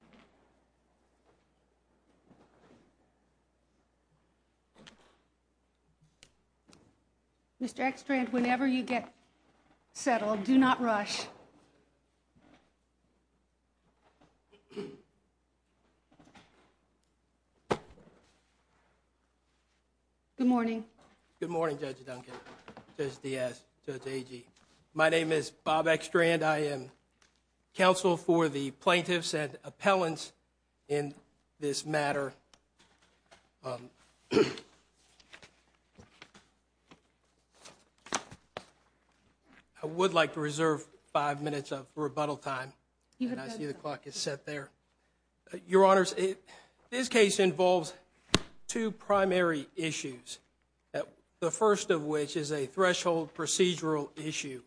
Judges, please stand and remain standing until I call your name and your name is called. Mr. Ekstrand, whenever you get settled, do not rush. Good morning. Good morning, Judge Duncan, Judge Diaz, Judge Agee. My name is Bob Ekstrand. I am counsel for the plaintiffs and appellants in this matter. I would like to reserve five minutes of rebuttal time, and I see the clock is set there. Your Honors, this case involves two primary issues, the first of which is a threshold procedural issue,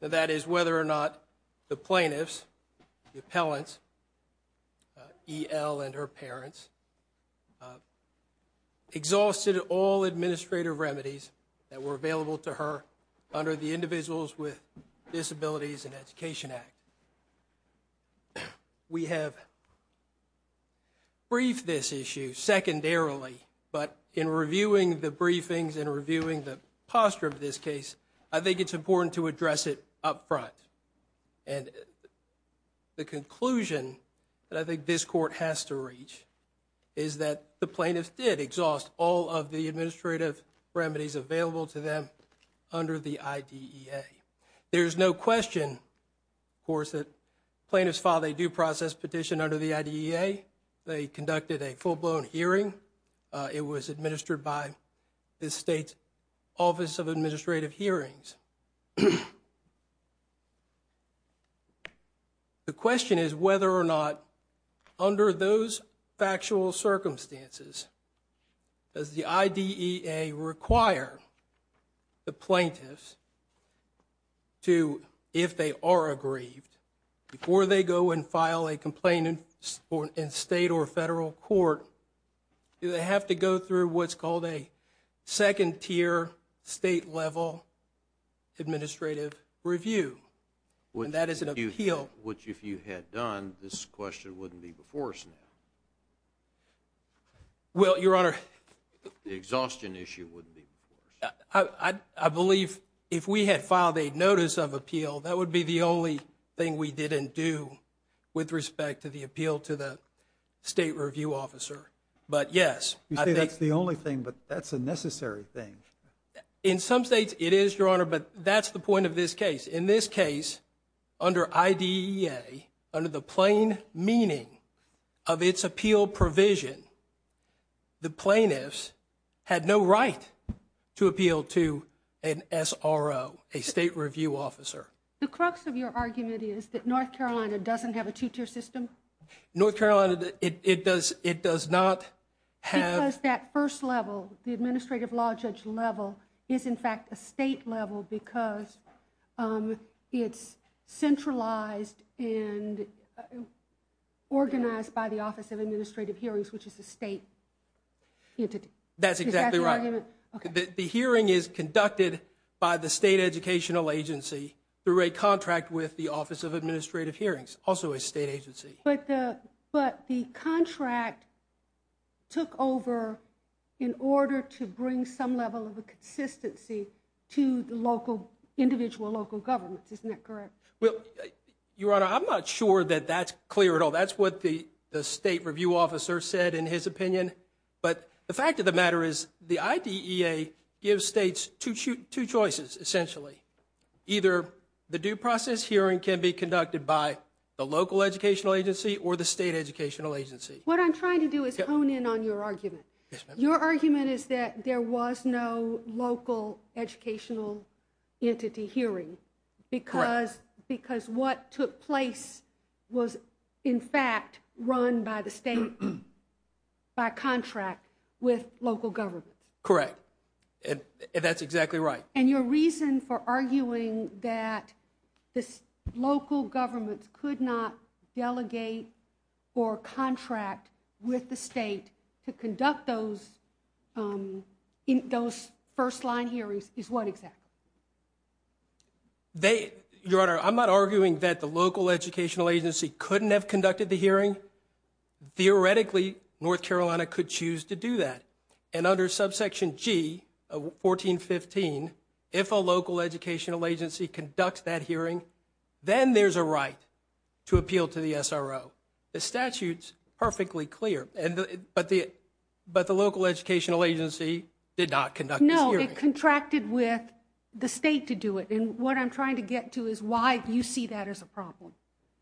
and that is whether or not the plaintiffs, the appellants, E. L. and her parents, exhausted all administrative remedies that were available to her under the Individuals with Disabilities and Education Act. We have briefed this issue secondarily, but in reviewing the briefings and reviewing the posture of this case, I think it's important to address it up front, and the conclusion that I think this court has to reach is that the plaintiffs did exhaust all of the administrative remedies available to them under the IDEA. There is no question, of course, that the plaintiffs filed a due process petition under the IDEA. They conducted a full-blown hearing. It was administered by the state's Office of Administrative Hearings. The question is whether or not, under those factual circumstances, does the IDEA require the plaintiffs to, if they are aggrieved, before they go and file a complaint in state or federal court, do they have to go through what's called a second-tier state-level administrative review? And that is an appeal. Which, if you had done, this question wouldn't be before us now. Well, Your Honor. The exhaustion issue wouldn't be before us. I believe if we had filed a notice of appeal, that would be the only thing we didn't do with respect to the appeal to the state review officer. But, yes. You say that's the only thing, but that's a necessary thing. In some states, it is, Your Honor, but that's the point of this case. In this case, under IDEA, under the plain meaning of its appeal provision, the plaintiffs had no right to appeal to an SRO, a state review officer. The crux of your argument is that North Carolina doesn't have a two-tier system? North Carolina, it does not have... Because that first level, the administrative law judge level, is in fact a state level because it's centralized and organized by the Office of Administrative Hearings, which is a state entity. That's exactly right. Is that the argument? through a contract with the Office of Administrative Hearings, also a state agency. But the contract took over in order to bring some level of consistency to the individual local governments. Isn't that correct? Your Honor, I'm not sure that that's clear at all. That's what the state review officer said in his opinion. But the fact of the matter is the IDEA gives states two choices, essentially. Either the due process hearing can be conducted by the local educational agency or the state educational agency. What I'm trying to do is hone in on your argument. Your argument is that there was no local educational entity hearing because what took place was, in fact, run by the state by contract with local governments. Correct. That's exactly right. And your reason for arguing that local governments could not delegate or contract with the state to conduct those first-line hearings is what exactly? Your Honor, I'm not arguing that the local educational agency couldn't have conducted the hearing. Theoretically, North Carolina could choose to do that. And under subsection G of 1415, if a local educational agency conducts that hearing, then there's a right to appeal to the SRO. The statute's perfectly clear. But the local educational agency did not conduct this hearing. No, it contracted with the state to do it. And what I'm trying to get to is why you see that as a problem.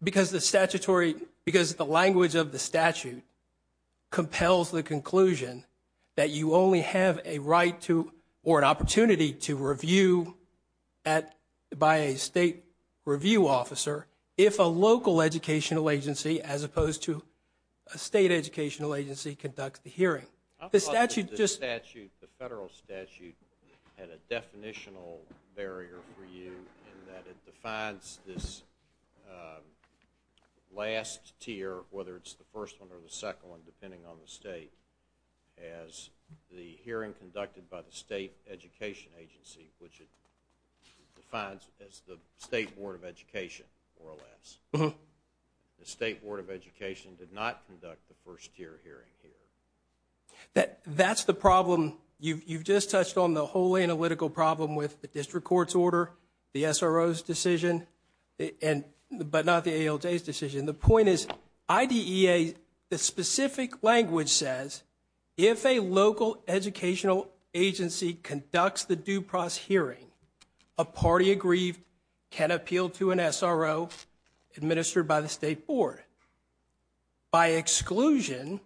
Because the language of the statute compels the conclusion that you only have a right to or an opportunity to review by a state review officer if a local educational agency, as opposed to a state educational agency, conducts the hearing. I thought that the statute, the federal statute, had a definitional barrier for you in that it defines this last tier, whether it's the first one or the second one, depending on the state, as the hearing conducted by the state education agency, which it defines as the state board of education, more or less. The state board of education did not conduct the first tier hearing here. That's the problem. You've just touched on the whole analytical problem with the district court's order, and the point is IDEA, the specific language says, if a local educational agency conducts the due process hearing, a party agreed can appeal to an SRO administered by the state board. By exclusion,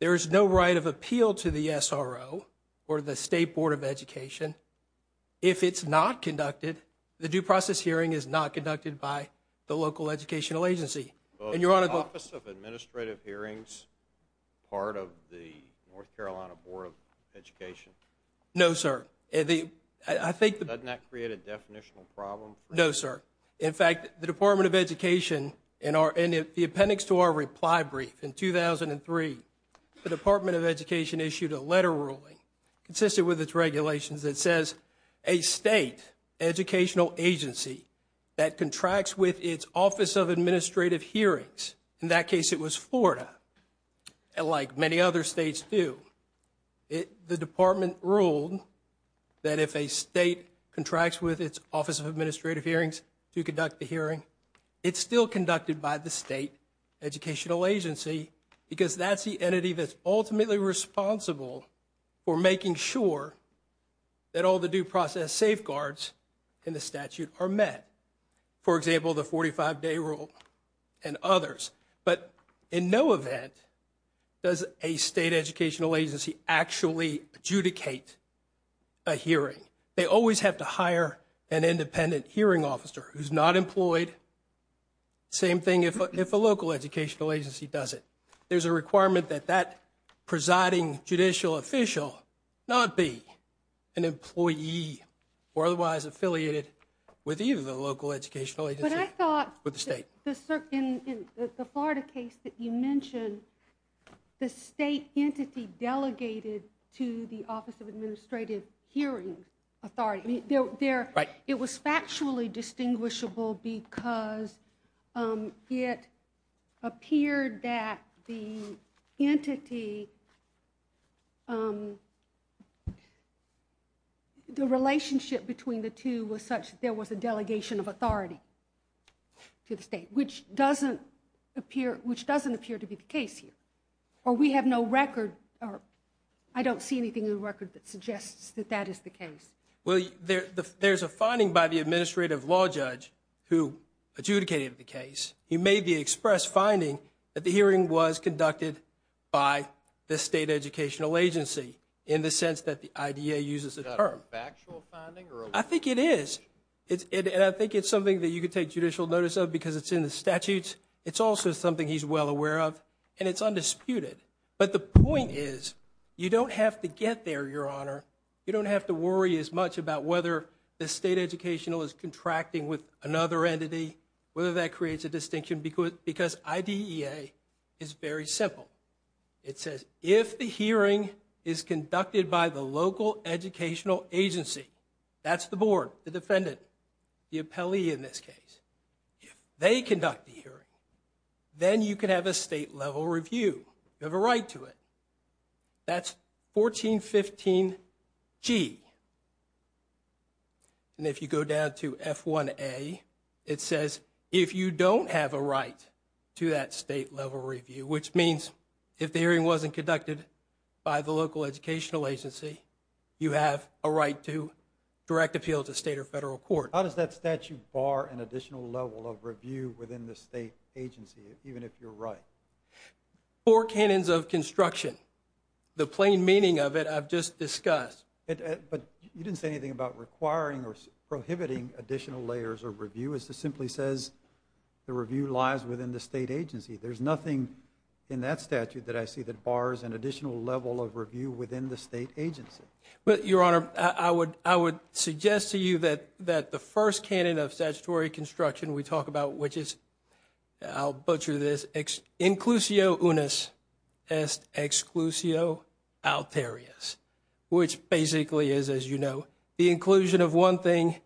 there is no right of appeal to the SRO or the state board of education if it's not conducted, the due process hearing is not conducted by the local educational agency. Is the Office of Administrative Hearings part of the North Carolina Board of Education? No, sir. Doesn't that create a definitional problem? No, sir. In fact, the Department of Education, in the appendix to our reply brief in 2003, the Department of Education issued a letter ruling consistent with its regulations that says a state educational agency that contracts with its Office of Administrative Hearings, in that case it was Florida, like many other states do, the department ruled that if a state contracts with its Office of Administrative Hearings to conduct the hearing, it's still conducted by the state educational agency because that's the entity that's ultimately responsible for making sure that all the due process safeguards in the statute are met. For example, the 45-day rule and others. But in no event does a state educational agency actually adjudicate a hearing. They always have to hire an independent hearing officer who's not employed. Same thing if a local educational agency does it. There's a requirement that that presiding judicial official not be an employee or otherwise affiliated with either the local educational agency or the state. But I thought in the Florida case that you mentioned, the state entity delegated to the Office of Administrative Hearings Authority. It was factually distinguishable because it appeared that the entity, the relationship between the two was such that there was a delegation of authority to the state, which doesn't appear to be the case here. Or we have no record. I don't see anything in the record that suggests that that is the case. Well, there's a finding by the administrative law judge who adjudicated the case. He made the express finding that the hearing was conducted by the state educational agency in the sense that the IDA uses the term. Is that a factual finding? I think it is. And I think it's something that you could take judicial notice of because it's in the statutes. It's also something he's well aware of and it's undisputed. But the point is you don't have to get there, Your Honor. You don't have to worry as much about whether the state educational is contracting with another entity, whether that creates a distinction because IDEA is very simple. It says if the hearing is conducted by the local educational agency, that's the board, the defendant, the appellee in this case. If they conduct the hearing, then you can have a state-level review. You have a right to it. That's 1415G. And if you go down to F1A, it says if you don't have a right to that state-level review, which means if the hearing wasn't conducted by the local educational agency, you have a right to direct appeal to state or federal court. How does that statute bar an additional level of review within the state agency, even if you're right? Four canons of construction. The plain meaning of it I've just discussed. But you didn't say anything about requiring or prohibiting additional layers of review. It simply says the review lies within the state agency. There's nothing in that statute that I see that bars an additional level of review within the state agency. But, Your Honor, I would suggest to you that the first canon of statutory construction we talk about, which is, I'll butcher this, inclusio unis est exclusio alterius, which basically is, as you know, the inclusion of one thing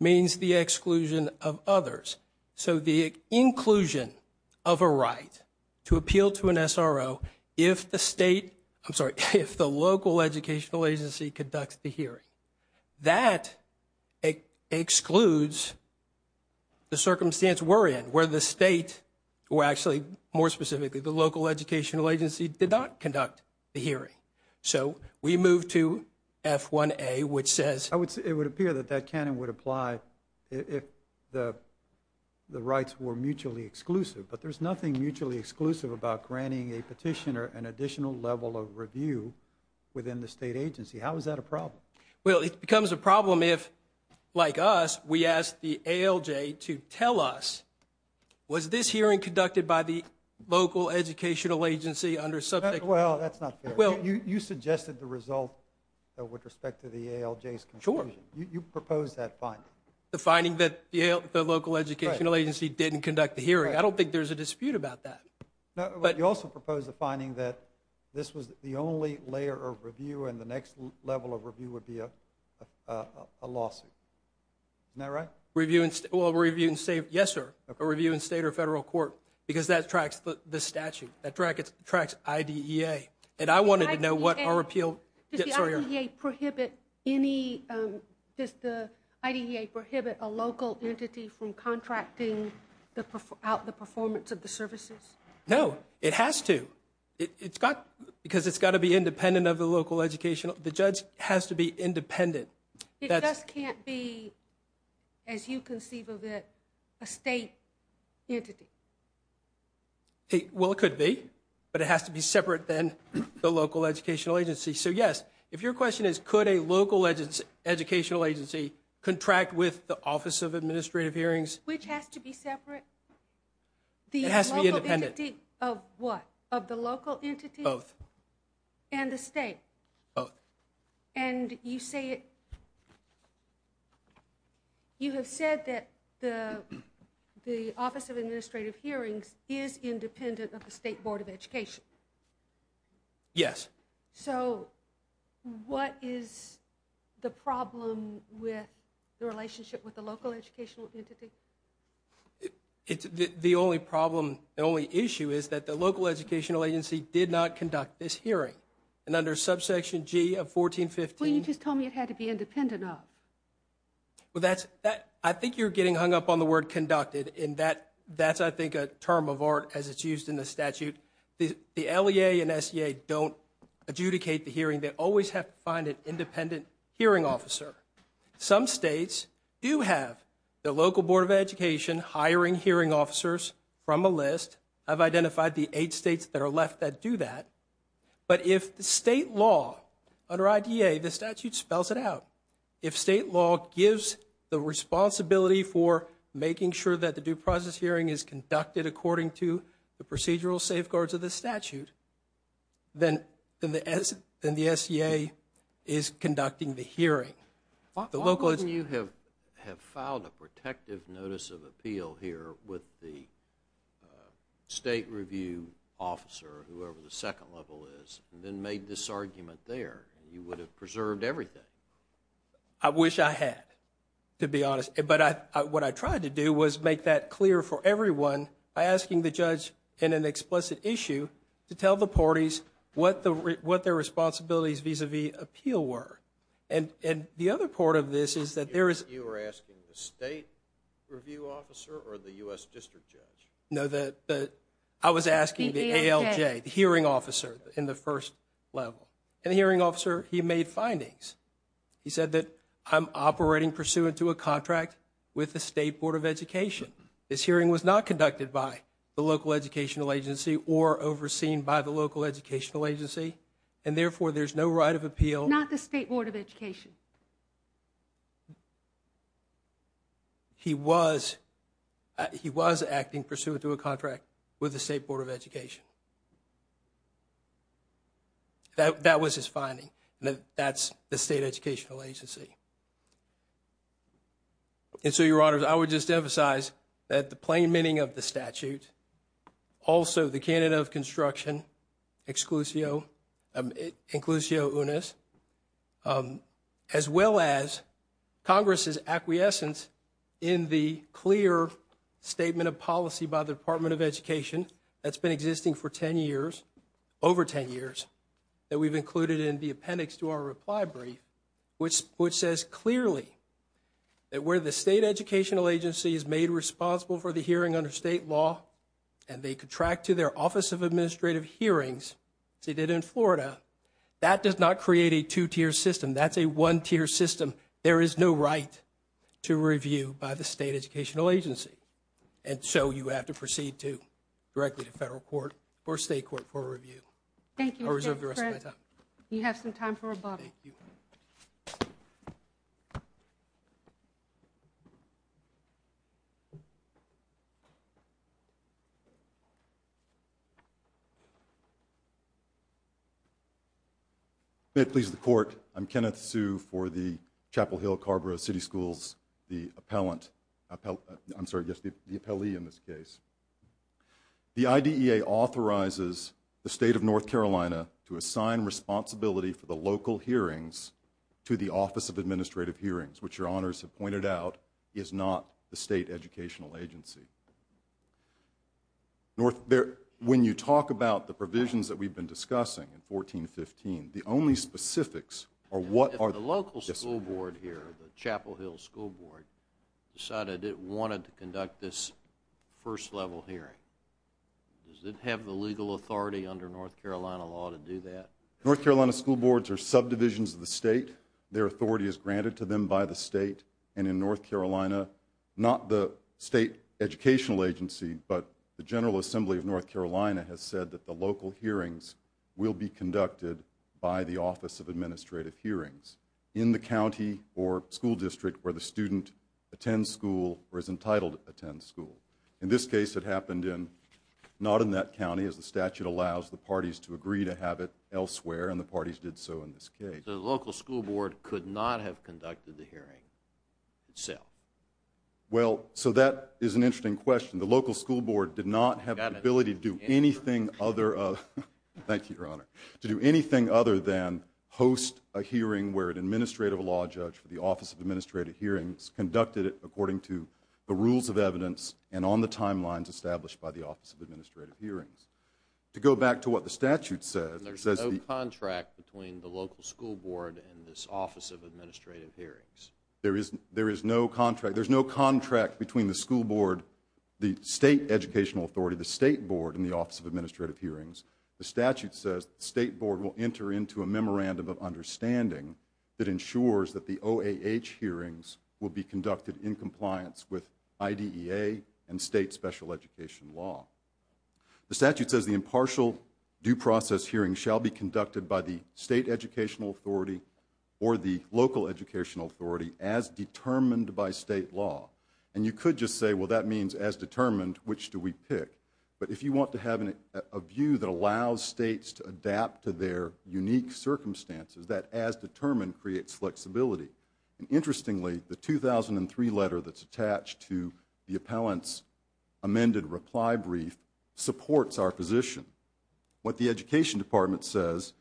means the exclusion of others. So the inclusion of a right to appeal to an SRO if the state, I'm sorry, if the local educational agency conducts the hearing, that excludes the circumstance we're in, where the state, or actually, more specifically, the local educational agency did not conduct the hearing. So we move to F1A, which says- It would appear that that canon would apply if the rights were mutually exclusive. But there's nothing mutually exclusive about granting a petitioner an additional level of review within the state agency. How is that a problem? Well, it becomes a problem if, like us, we ask the ALJ to tell us, was this hearing conducted by the local educational agency under subject- Well, that's not fair. You suggested the result with respect to the ALJ's conclusion. Sure. You proposed that finding. The finding that the local educational agency didn't conduct the hearing. I don't think there's a dispute about that. You also proposed the finding that this was the only layer of review, and the next level of review would be a lawsuit. Isn't that right? Yes, sir, a review in state or federal court, because that tracks the statute. That tracks IDEA. And I wanted to know what our appeal- Does the IDEA prohibit any- Does the IDEA prohibit a local entity from contracting out the performance of the services? No, it has to, because it's got to be independent of the local educational- The judge has to be independent. It just can't be, as you conceive of it, a state entity. Well, it could be, but it has to be separate than the local educational agency. So, yes, if your question is could a local educational agency contract with the Office of Administrative Hearings- Which has to be separate? It has to be independent. The local entity of what? Of the local entity? Both. And the state? Both. And you say it- You have said that the Office of Administrative Hearings is independent of the State Board of Education. Yes. So, what is the problem with the relationship with the local educational entity? The only problem, the only issue, is that the local educational agency did not conduct this hearing. And under subsection G of 1415- Well, you just told me it had to be independent of. Well, that's- I think you're getting hung up on the word conducted. And that's, I think, a term of art as it's used in the statute. The LEA and SEA don't adjudicate the hearing. They always have to find an independent hearing officer. Some states do have the local Board of Education hiring hearing officers from a list. I've identified the eight states that are left that do that. But if the state law, under IDA, the statute spells it out, if state law gives the responsibility for making sure that the due process hearing is conducted according to the procedural safeguards of the statute, then the SEA is conducting the hearing. Why wouldn't you have filed a protective notice of appeal here with the state review officer, whoever the second level is, and then made this argument there? You would have preserved everything. I wish I had, to be honest. But what I tried to do was make that clear for everyone by asking the judge in an explicit issue to tell the parties what their responsibilities vis-à-vis appeal were. And the other part of this is that there is... You were asking the state review officer or the U.S. district judge? No, I was asking the ALJ, the hearing officer in the first level. And the hearing officer, he made findings. He said that I'm operating pursuant to a contract with the state Board of Education. This hearing was not conducted by the local educational agency or overseen by the local educational agency, and therefore there's no right of appeal. Not the state Board of Education? He was acting pursuant to a contract with the state Board of Education. That was his finding. That's the state educational agency. And so, Your Honors, I would just emphasize that the plain meaning of the statute, also the Canada of Construction, Exclusio Unis, as well as Congress' acquiescence in the clear statement of policy by the Department of Education that's been existing for 10 years, over 10 years, that we've included in the appendix to our reply brief, which says clearly that where the state educational agency is made responsible for the hearing under state law, and they contract to their Office of Administrative Hearings, as they did in Florida, that does not create a two-tier system. That's a one-tier system. There is no right to review by the state educational agency. And so you have to proceed directly to federal court or state court for review. Thank you. I'll reserve the rest of my time. You have some time for rebuttal. Thank you. May it please the Court, I'm Kenneth Hsu for the Chapel Hill-Carborough City Schools, the appellee in this case. The IDEA authorizes the state of North Carolina to assign responsibility for the local hearings to the Office of Administrative Hearings, which your Honors have pointed out is not the state educational agency. When you talk about the provisions that we've been discussing in 1415, the only specifics are what are the... If the local school board here, the Chapel Hill School Board, decided it wanted to conduct this first-level hearing, does it have the legal authority under North Carolina law to do that? North Carolina school boards are subdivisions of the state. Their authority is granted to them by the state. And in North Carolina, not the state educational agency, but the General Assembly of North Carolina has said that the local hearings will be conducted by the Office of Administrative Hearings in the county or school district where the student attends school or is entitled to attend school. In this case, it happened not in that county, as the statute allows the parties to agree to have it elsewhere, and the parties did so in this case. The local school board could not have conducted the hearing itself. Well, so that is an interesting question. The local school board did not have the ability to do anything other... Thank you, Your Honor. ...to do anything other than host a hearing where an administrative law judge for the Office of Administrative Hearings conducted it according to the rules of evidence and on the timelines established by the Office of Administrative Hearings. To go back to what the statute says... There's no contract between the local school board and this Office of Administrative Hearings. There is no contract. There's no contract between the school board, the state educational authority, the state board, and the Office of Administrative Hearings. The statute says the state board will enter into a memorandum of understanding that ensures that the OAH hearings will be conducted in compliance with IDEA and state special education law. The statute says the impartial due process hearing shall be conducted by the state educational authority or the local educational authority as determined by state law. And you could just say, well, that means as determined, which do we pick? But if you want to have a view that allows states to adapt to their unique circumstances, that as determined creates flexibility. And interestingly, the 2003 letter that's attached to the appellant's amended reply brief supports our position. What the education department says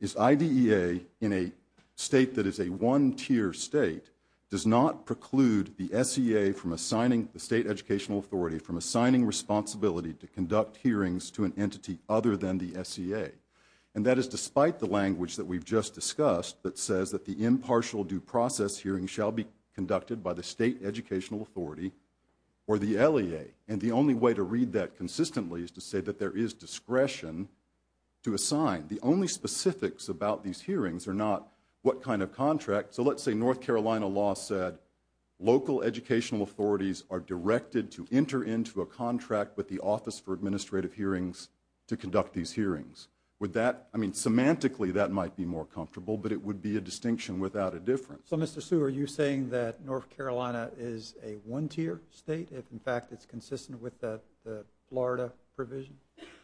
is IDEA, in a state that is a one-tier state, does not preclude the SEA from assigning the state educational authority from assigning responsibility to conduct hearings to an entity other than the SEA. And that is despite the language that we've just discussed that says that the impartial due process hearing shall be conducted by the state educational authority or the LEA. And the only way to read that consistently is to say that there is discretion to assign. The only specifics about these hearings are not what kind of contract. So let's say North Carolina law said local educational authorities are directed to enter into a contract with the Office for Administrative Hearings to conduct these hearings. I mean, semantically that might be more comfortable, but it would be a distinction without a difference. So, Mr. Hsu, are you saying that North Carolina is a one-tier state if, in fact, it's consistent with the Florida provision?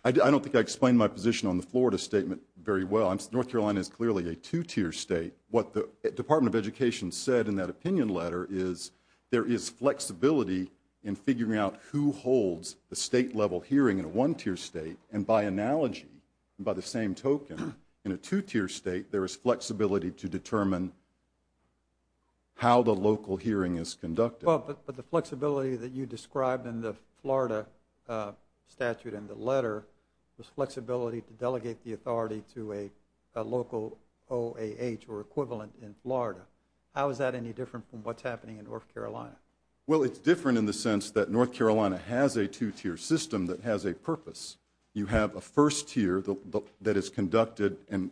I don't think I explained my position on the Florida statement very well. North Carolina is clearly a two-tier state. What the Department of Education said in that opinion letter is there is flexibility in figuring out who holds the state-level hearing in a one-tier state. And by analogy, by the same token, in a two-tier state, there is flexibility to determine how the local hearing is conducted. Well, but the flexibility that you described in the Florida statute in the letter was flexibility to delegate the authority to a local OAH or equivalent in Florida. How is that any different from what's happening in North Carolina? Well, it's different in the sense that North Carolina has a two-tier system that has a purpose. You have a first tier that is conducted, and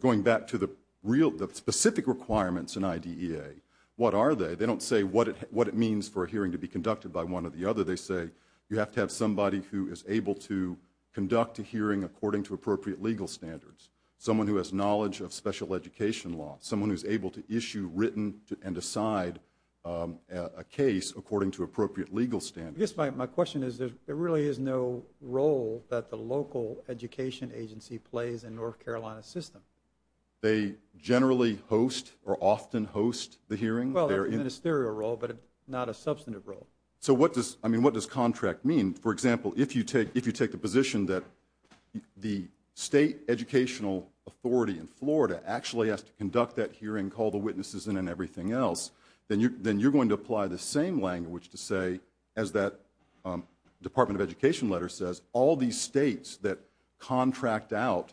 going back to the specific requirements in IDEA, what are they? They don't say what it means for a hearing to be conducted by one or the other. They say you have to have somebody who is able to conduct a hearing according to appropriate legal standards, someone who has knowledge of special education law, someone who's able to issue, written, and decide a case according to appropriate legal standards. I guess my question is there really is no role that the local education agency plays in North Carolina's system. They generally host or often host the hearing? Well, it's a ministerial role, but not a substantive role. So what does contract mean? For example, if you take the position that the state educational authority in Florida actually has to conduct that hearing, call the witnesses in, and everything else, then you're going to apply the same language to say as that Department of Education letter says, all these states that contract out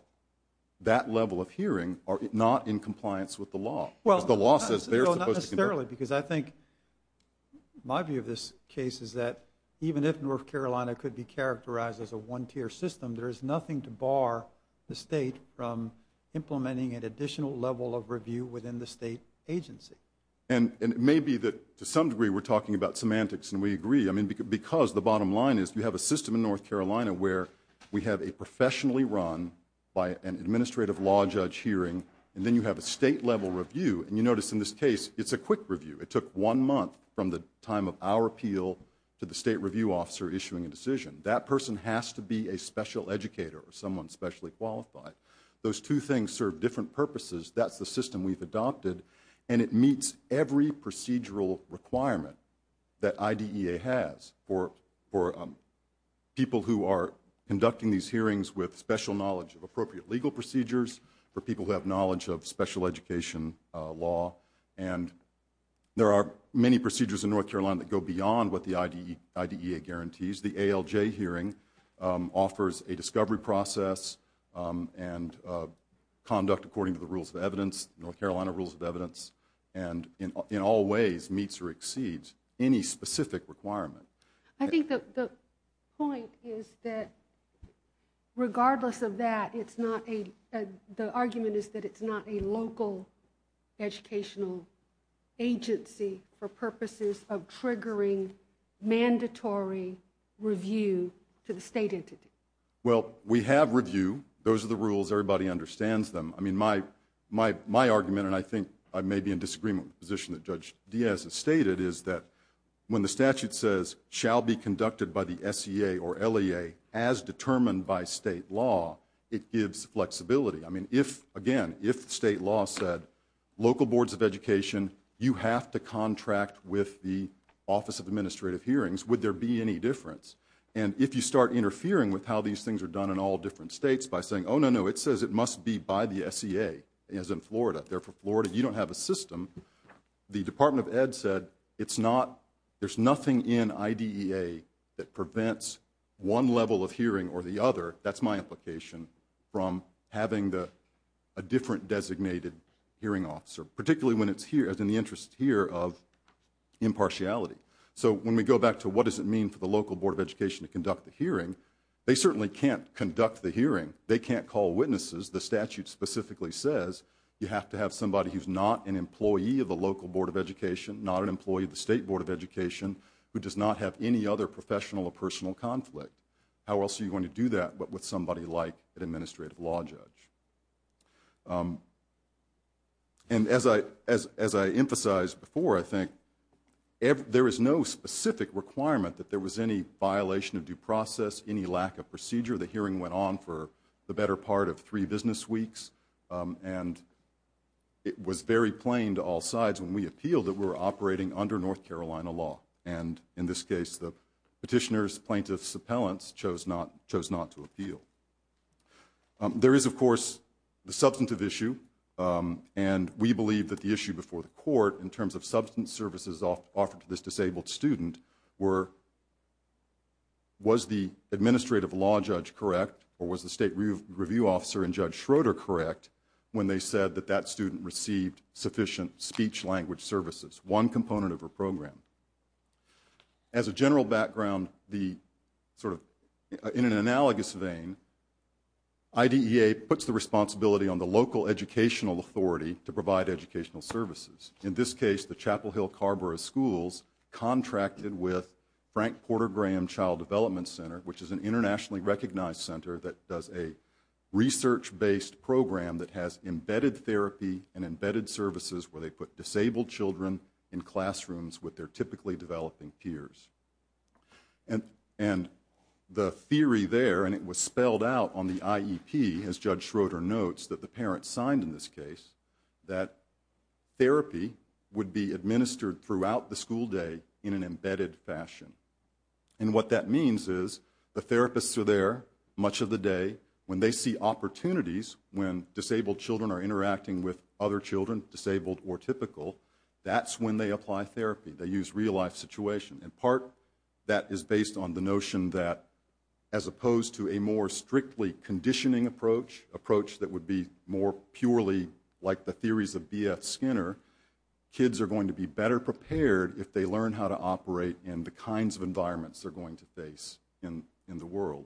that level of hearing are not in compliance with the law. Well, not necessarily, because I think my view of this case is that even if North Carolina could be characterized as a one-tier system, there is nothing to bar the state from implementing an additional level of review within the state agency. And it may be that to some degree we're talking about semantics and we agree, I mean, because the bottom line is you have a system in North Carolina where we have a professionally run by an administrative law judge hearing, and then you have a state-level review. And you notice in this case it's a quick review. It took one month from the time of our appeal to the state review officer issuing a decision. That person has to be a special educator or someone specially qualified. Those two things serve different purposes. That's the system we've adopted, and it meets every procedural requirement that IDEA has for people who are conducting these hearings with special knowledge of appropriate legal procedures, for people who have knowledge of special education law. And there are many procedures in North Carolina that go beyond what the IDEA guarantees. The ALJ hearing offers a discovery process and conduct according to the rules of evidence, North Carolina rules of evidence, and in all ways meets or exceeds any specific requirement. I think the point is that regardless of that, the argument is that it's not a local educational agency for purposes of triggering mandatory review to the state entity. Well, we have review. Those are the rules. Everybody understands them. I mean, my argument, and I think I may be in disagreement with the position that Judge Diaz has stated, is that when the statute says, shall be conducted by the SEA or LEA as determined by state law, it gives flexibility. I mean, again, if state law said, local boards of education, you have to contract with the Office of Administrative Hearings, would there be any difference? And if you start interfering with how these things are done in all different states by saying, oh, no, no, it says it must be by the SEA, as in Florida. Therefore, Florida, you don't have a system. The Department of Ed said there's nothing in IDEA that prevents one level of hearing or the other, that's my implication, from having a different designated hearing officer, particularly when it's in the interest here of impartiality. So when we go back to what does it mean for the local board of education to conduct the hearing, they certainly can't conduct the hearing. They can't call witnesses. The statute specifically says you have to have somebody who's not an employee of the local board of education, not an employee of the state board of education, who does not have any other professional or personal conflict. How else are you going to do that but with somebody like an administrative law judge? And as I emphasized before, I think, there is no specific requirement that there was any violation of due process, any lack of procedure. The hearing went on for the better part of three business weeks, and it was very plain to all sides when we appealed that we were operating under North Carolina law. And in this case, the petitioners, plaintiffs, appellants chose not to appeal. There is, of course, the substantive issue, and we believe that the issue before the court in terms of substance services offered to this disabled student was the administrative law judge correct or was the state review officer and Judge Schroeder correct when they said that that student received sufficient speech-language services, one component of her program. As a general background, in an analogous vein, IDEA puts the responsibility on the local educational authority to provide educational services. In this case, the Chapel Hill-Carborough schools contracted with Frank Porter Graham Child Development Center, which is an internationally recognized center that does a research-based program that has embedded therapy and embedded services where they put disabled children in classrooms with their typically developing peers. And the theory there, and it was spelled out on the IEP, as Judge Schroeder notes, that the parents signed in this case, that therapy would be administered throughout the school day in an embedded fashion. And what that means is the therapists are there much of the day. When they see opportunities, when disabled children are interacting with other children, disabled or typical, that's when they apply therapy. They use real-life situations. And part of that is based on the notion that, as opposed to a more strictly conditioning approach, approach that would be more purely like the theories of B.F. Skinner, kids are going to be better prepared if they learn how to operate in the kinds of environments they're going to face in the world.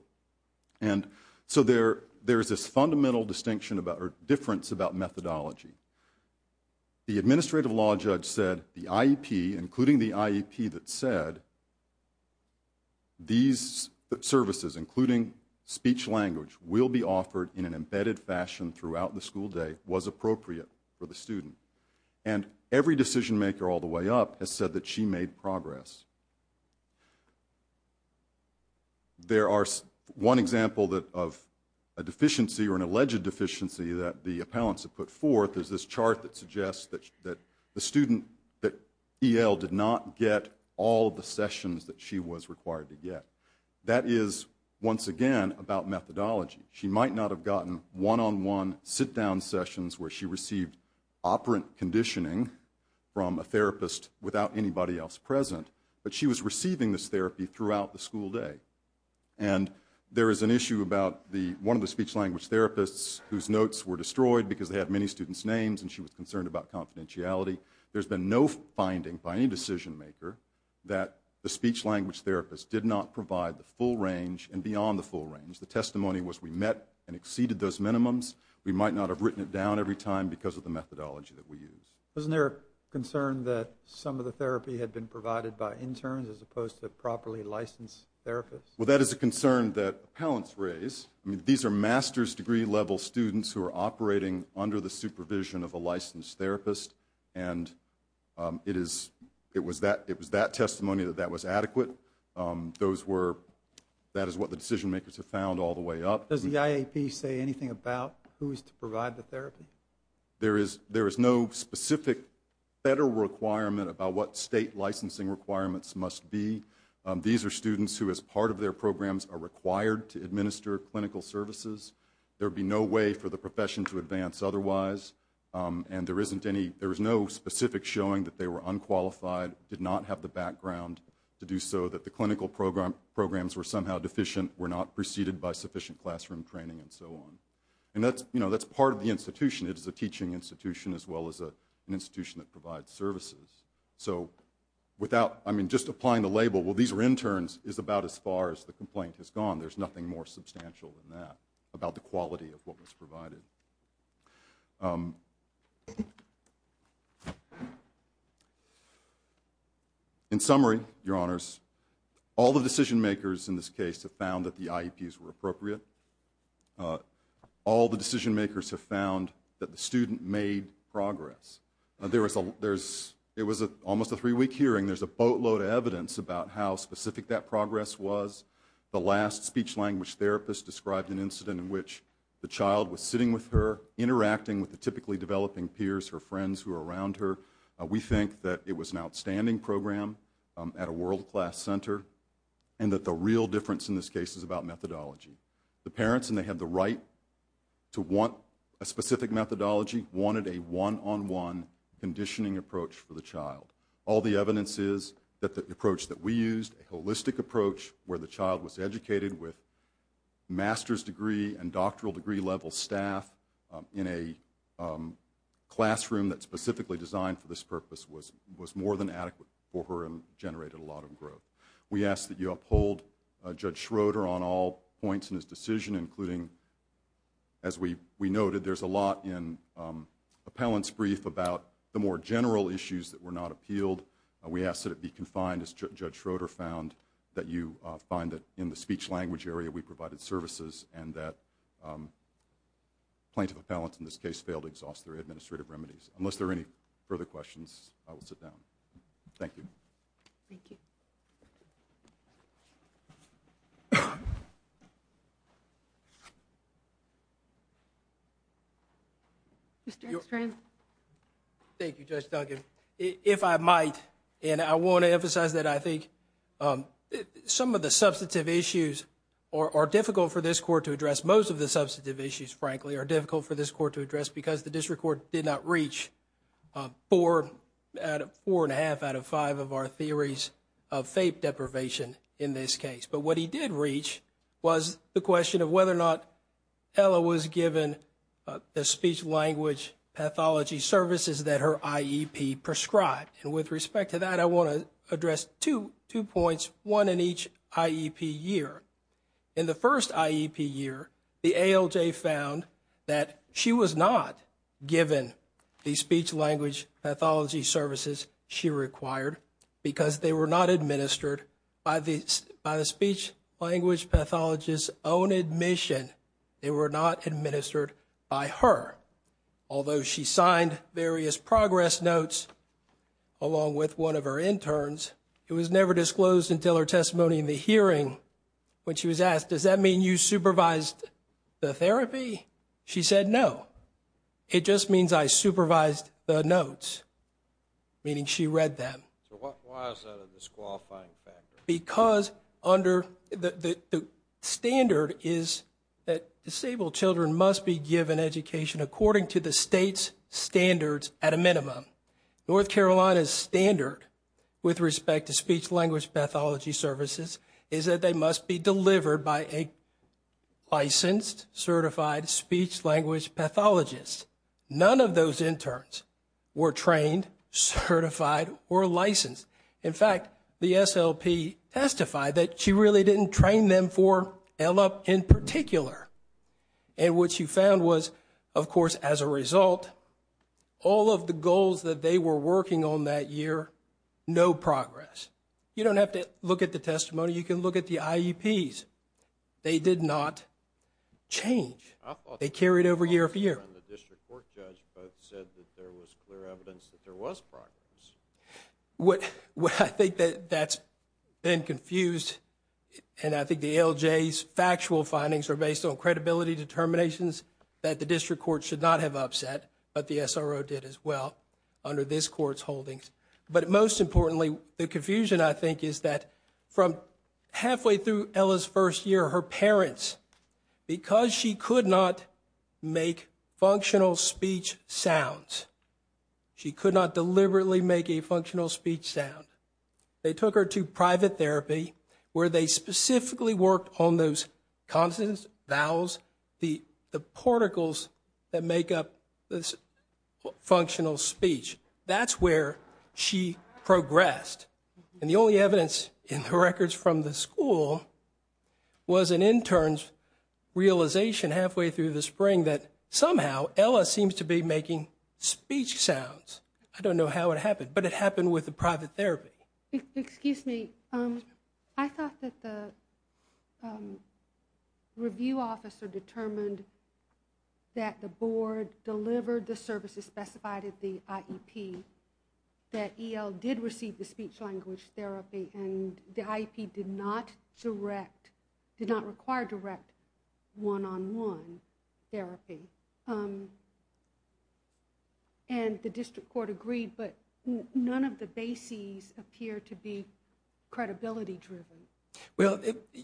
And so there's this fundamental difference about methodology. The administrative law judge said the IEP, including the IEP that said, these services, including speech-language, will be offered in an embedded fashion throughout the school day, was appropriate for the student. And every decision-maker all the way up has said that she made progress. There are one example of a deficiency or an alleged deficiency that the appellants have put forth. There's this chart that suggests that the student, that E.L. did not get all the sessions that she was required to get. That is, once again, about methodology. She might not have gotten one-on-one sit-down sessions where she received operant conditioning from a therapist without anybody else present, but she was receiving this therapy throughout the school day. And there is an issue about one of the speech-language therapists whose notes were destroyed because they had many students' names and she was concerned about confidentiality. There's been no finding by any decision-maker that the speech-language therapist did not provide the full range and beyond the full range. The testimony was we met and exceeded those minimums. We might not have written it down every time because of the methodology that we used. Isn't there a concern that some of the therapy had been provided by interns as opposed to properly licensed therapists? Well, that is a concern that appellants raise. These are master's degree-level students who are operating under the supervision of a licensed therapist and it was that testimony that that was adequate. That is what the decision-makers have found all the way up. Does the IAP say anything about who is to provide the therapy? There is no specific federal requirement about what state licensing requirements must be. These are students who, as part of their programs, are required to administer clinical services. There would be no way for the profession to advance otherwise, and there is no specific showing that they were unqualified, did not have the background to do so, that the clinical programs were somehow deficient, were not preceded by sufficient classroom training, and so on. That's part of the institution. It is a teaching institution as well as an institution that provides services. Just applying the label, well, these are interns, is about as far as the complaint has gone. There's nothing more substantial than that about the quality of what was provided. Um... In summary, Your Honors, all the decision-makers in this case have found that the IAPs were appropriate. All the decision-makers have found that the student made progress. It was almost a three-week hearing. There's a boatload of evidence about how specific that progress was. The last speech-language therapist described an incident in which the child was sitting with her, interacting with the typically developing peers, her friends who were around her. We think that it was an outstanding program at a world-class center, and that the real difference in this case is about methodology. The parents, and they had the right to want a specific methodology, wanted a one-on-one conditioning approach for the child. All the evidence is that the approach that we used, a holistic approach where the child was educated with master's degree and doctoral degree-level staff in a classroom that's specifically designed for this purpose, was more than adequate for her and generated a lot of growth. We ask that you uphold Judge Schroeder on all points in his decision, including, as we noted, there's a lot in Appellant's brief about the more general issues that were not appealed. We ask that it be confined, as Judge Schroeder found, that you find that in the speech-language area we provided services and that Plaintiff Appellants, in this case, failed to exhaust their administrative remedies. Unless there are any further questions, I will sit down. Thank you. Thank you. Mr. X. Thank you, Judge Duncan. If I might, and I want to emphasize that I think some of the substantive issues are difficult for this court to address. Most of the substantive issues, frankly, are difficult for this court to address because the district court did not reach four and a half out of five of our theories of FAPE deprivation in this case. But what he did reach was the question of whether or not Ella was given the speech-language pathology services that her IEP prescribed. And with respect to that, I want to address two points, one in each IEP year. In the first IEP year, the ALJ found that she was not given the speech-language pathology services she required because they were not administered by the speech-language pathologist's own admission. They were not administered by her. Although she signed various progress notes along with one of her interns, it was never disclosed until her testimony in the hearing when she was asked, does that mean you supervised the therapy? She said, no. It just means I supervised the notes, meaning she read them. So why is that a disqualifying factor? Because under the standard is that disabled children must be given education according to the state's standards at a minimum. North Carolina's standard with respect to speech-language pathology services is that they must be delivered by a licensed, certified speech-language pathologist. None of those interns were trained, certified, or licensed. In fact, the SLP testified that she really didn't train them for ELLUP in particular. And what she found was, of course, as a result, all of the goals that they were working on that year, no progress. You don't have to look at the testimony. You can look at the IEPs. They did not change. They carried over year after year. The district court judge both said that there was clear evidence that there was progress. What I think that's been confused, and I think the ALJ's factual findings are based on credibility determinations that the district court should not have upset, but the SRO did as well under this court's holdings. But most importantly, the confusion, I think, is that from halfway through Ella's first year, her parents, because she could not make functional speech sounds, she could not deliberately make a functional speech sound, where they specifically worked on those consonants, vowels, the particles that make up this functional speech. That's where she progressed. And the only evidence in the records from the school was an intern's realization halfway through the spring that somehow Ella seems to be making speech sounds. I don't know how it happened, but it happened with the private therapy. Excuse me. I thought that the review officer determined that the board delivered the services specified at the IEP, that EL did receive the speech-language therapy, and the IEP did not direct, did not require direct one-on-one therapy. And the district court agreed, but none of the bases appear to be credibility-driven. Well,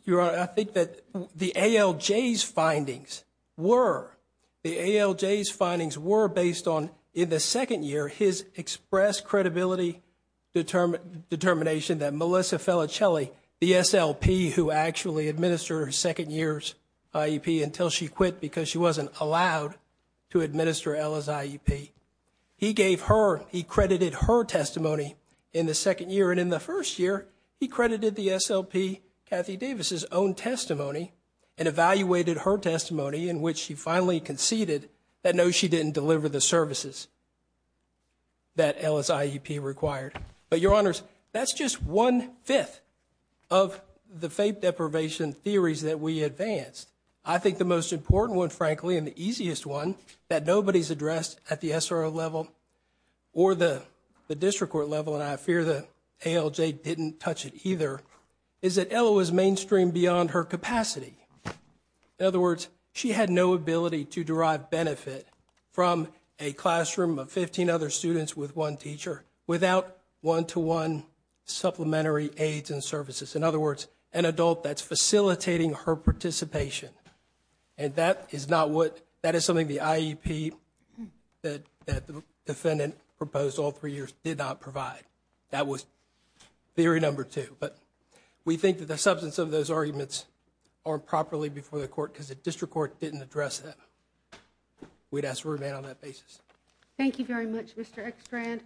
Your Honor, I think that the ALJ's findings were, the ALJ's findings were based on, in the second year, his expressed credibility determination that Melissa Felicelli, the SLP who actually administered her second year's IEP until she quit because she wasn't allowed to administer Ella's IEP, he gave her, he credited her testimony in the second year, and in the first year, he credited the SLP Kathy Davis's own testimony and evaluated her testimony in which she finally conceded that no, she didn't deliver the services that Ella's IEP required. But, Your Honors, that's just one-fifth of the faith deprivation theories that we advanced. I think the most important one, frankly, and the easiest one that nobody's addressed at the SRO level or the district court level, and I fear the ALJ didn't touch it either, is that Ella was mainstream beyond her capacity. In other words, she had no ability to derive benefit from a classroom of 15 other students with one teacher without one-to-one supplementary aids and services. In other words, an adult that's facilitating her participation. And that is not what, that is something the IEP that the defendant proposed all three years did not provide. That was theory number two. But we think that the substance of those arguments aren't properly before the court because the district court didn't address that. We'd ask for a remand on that basis. Thank you very much, Mr. Ekstrand.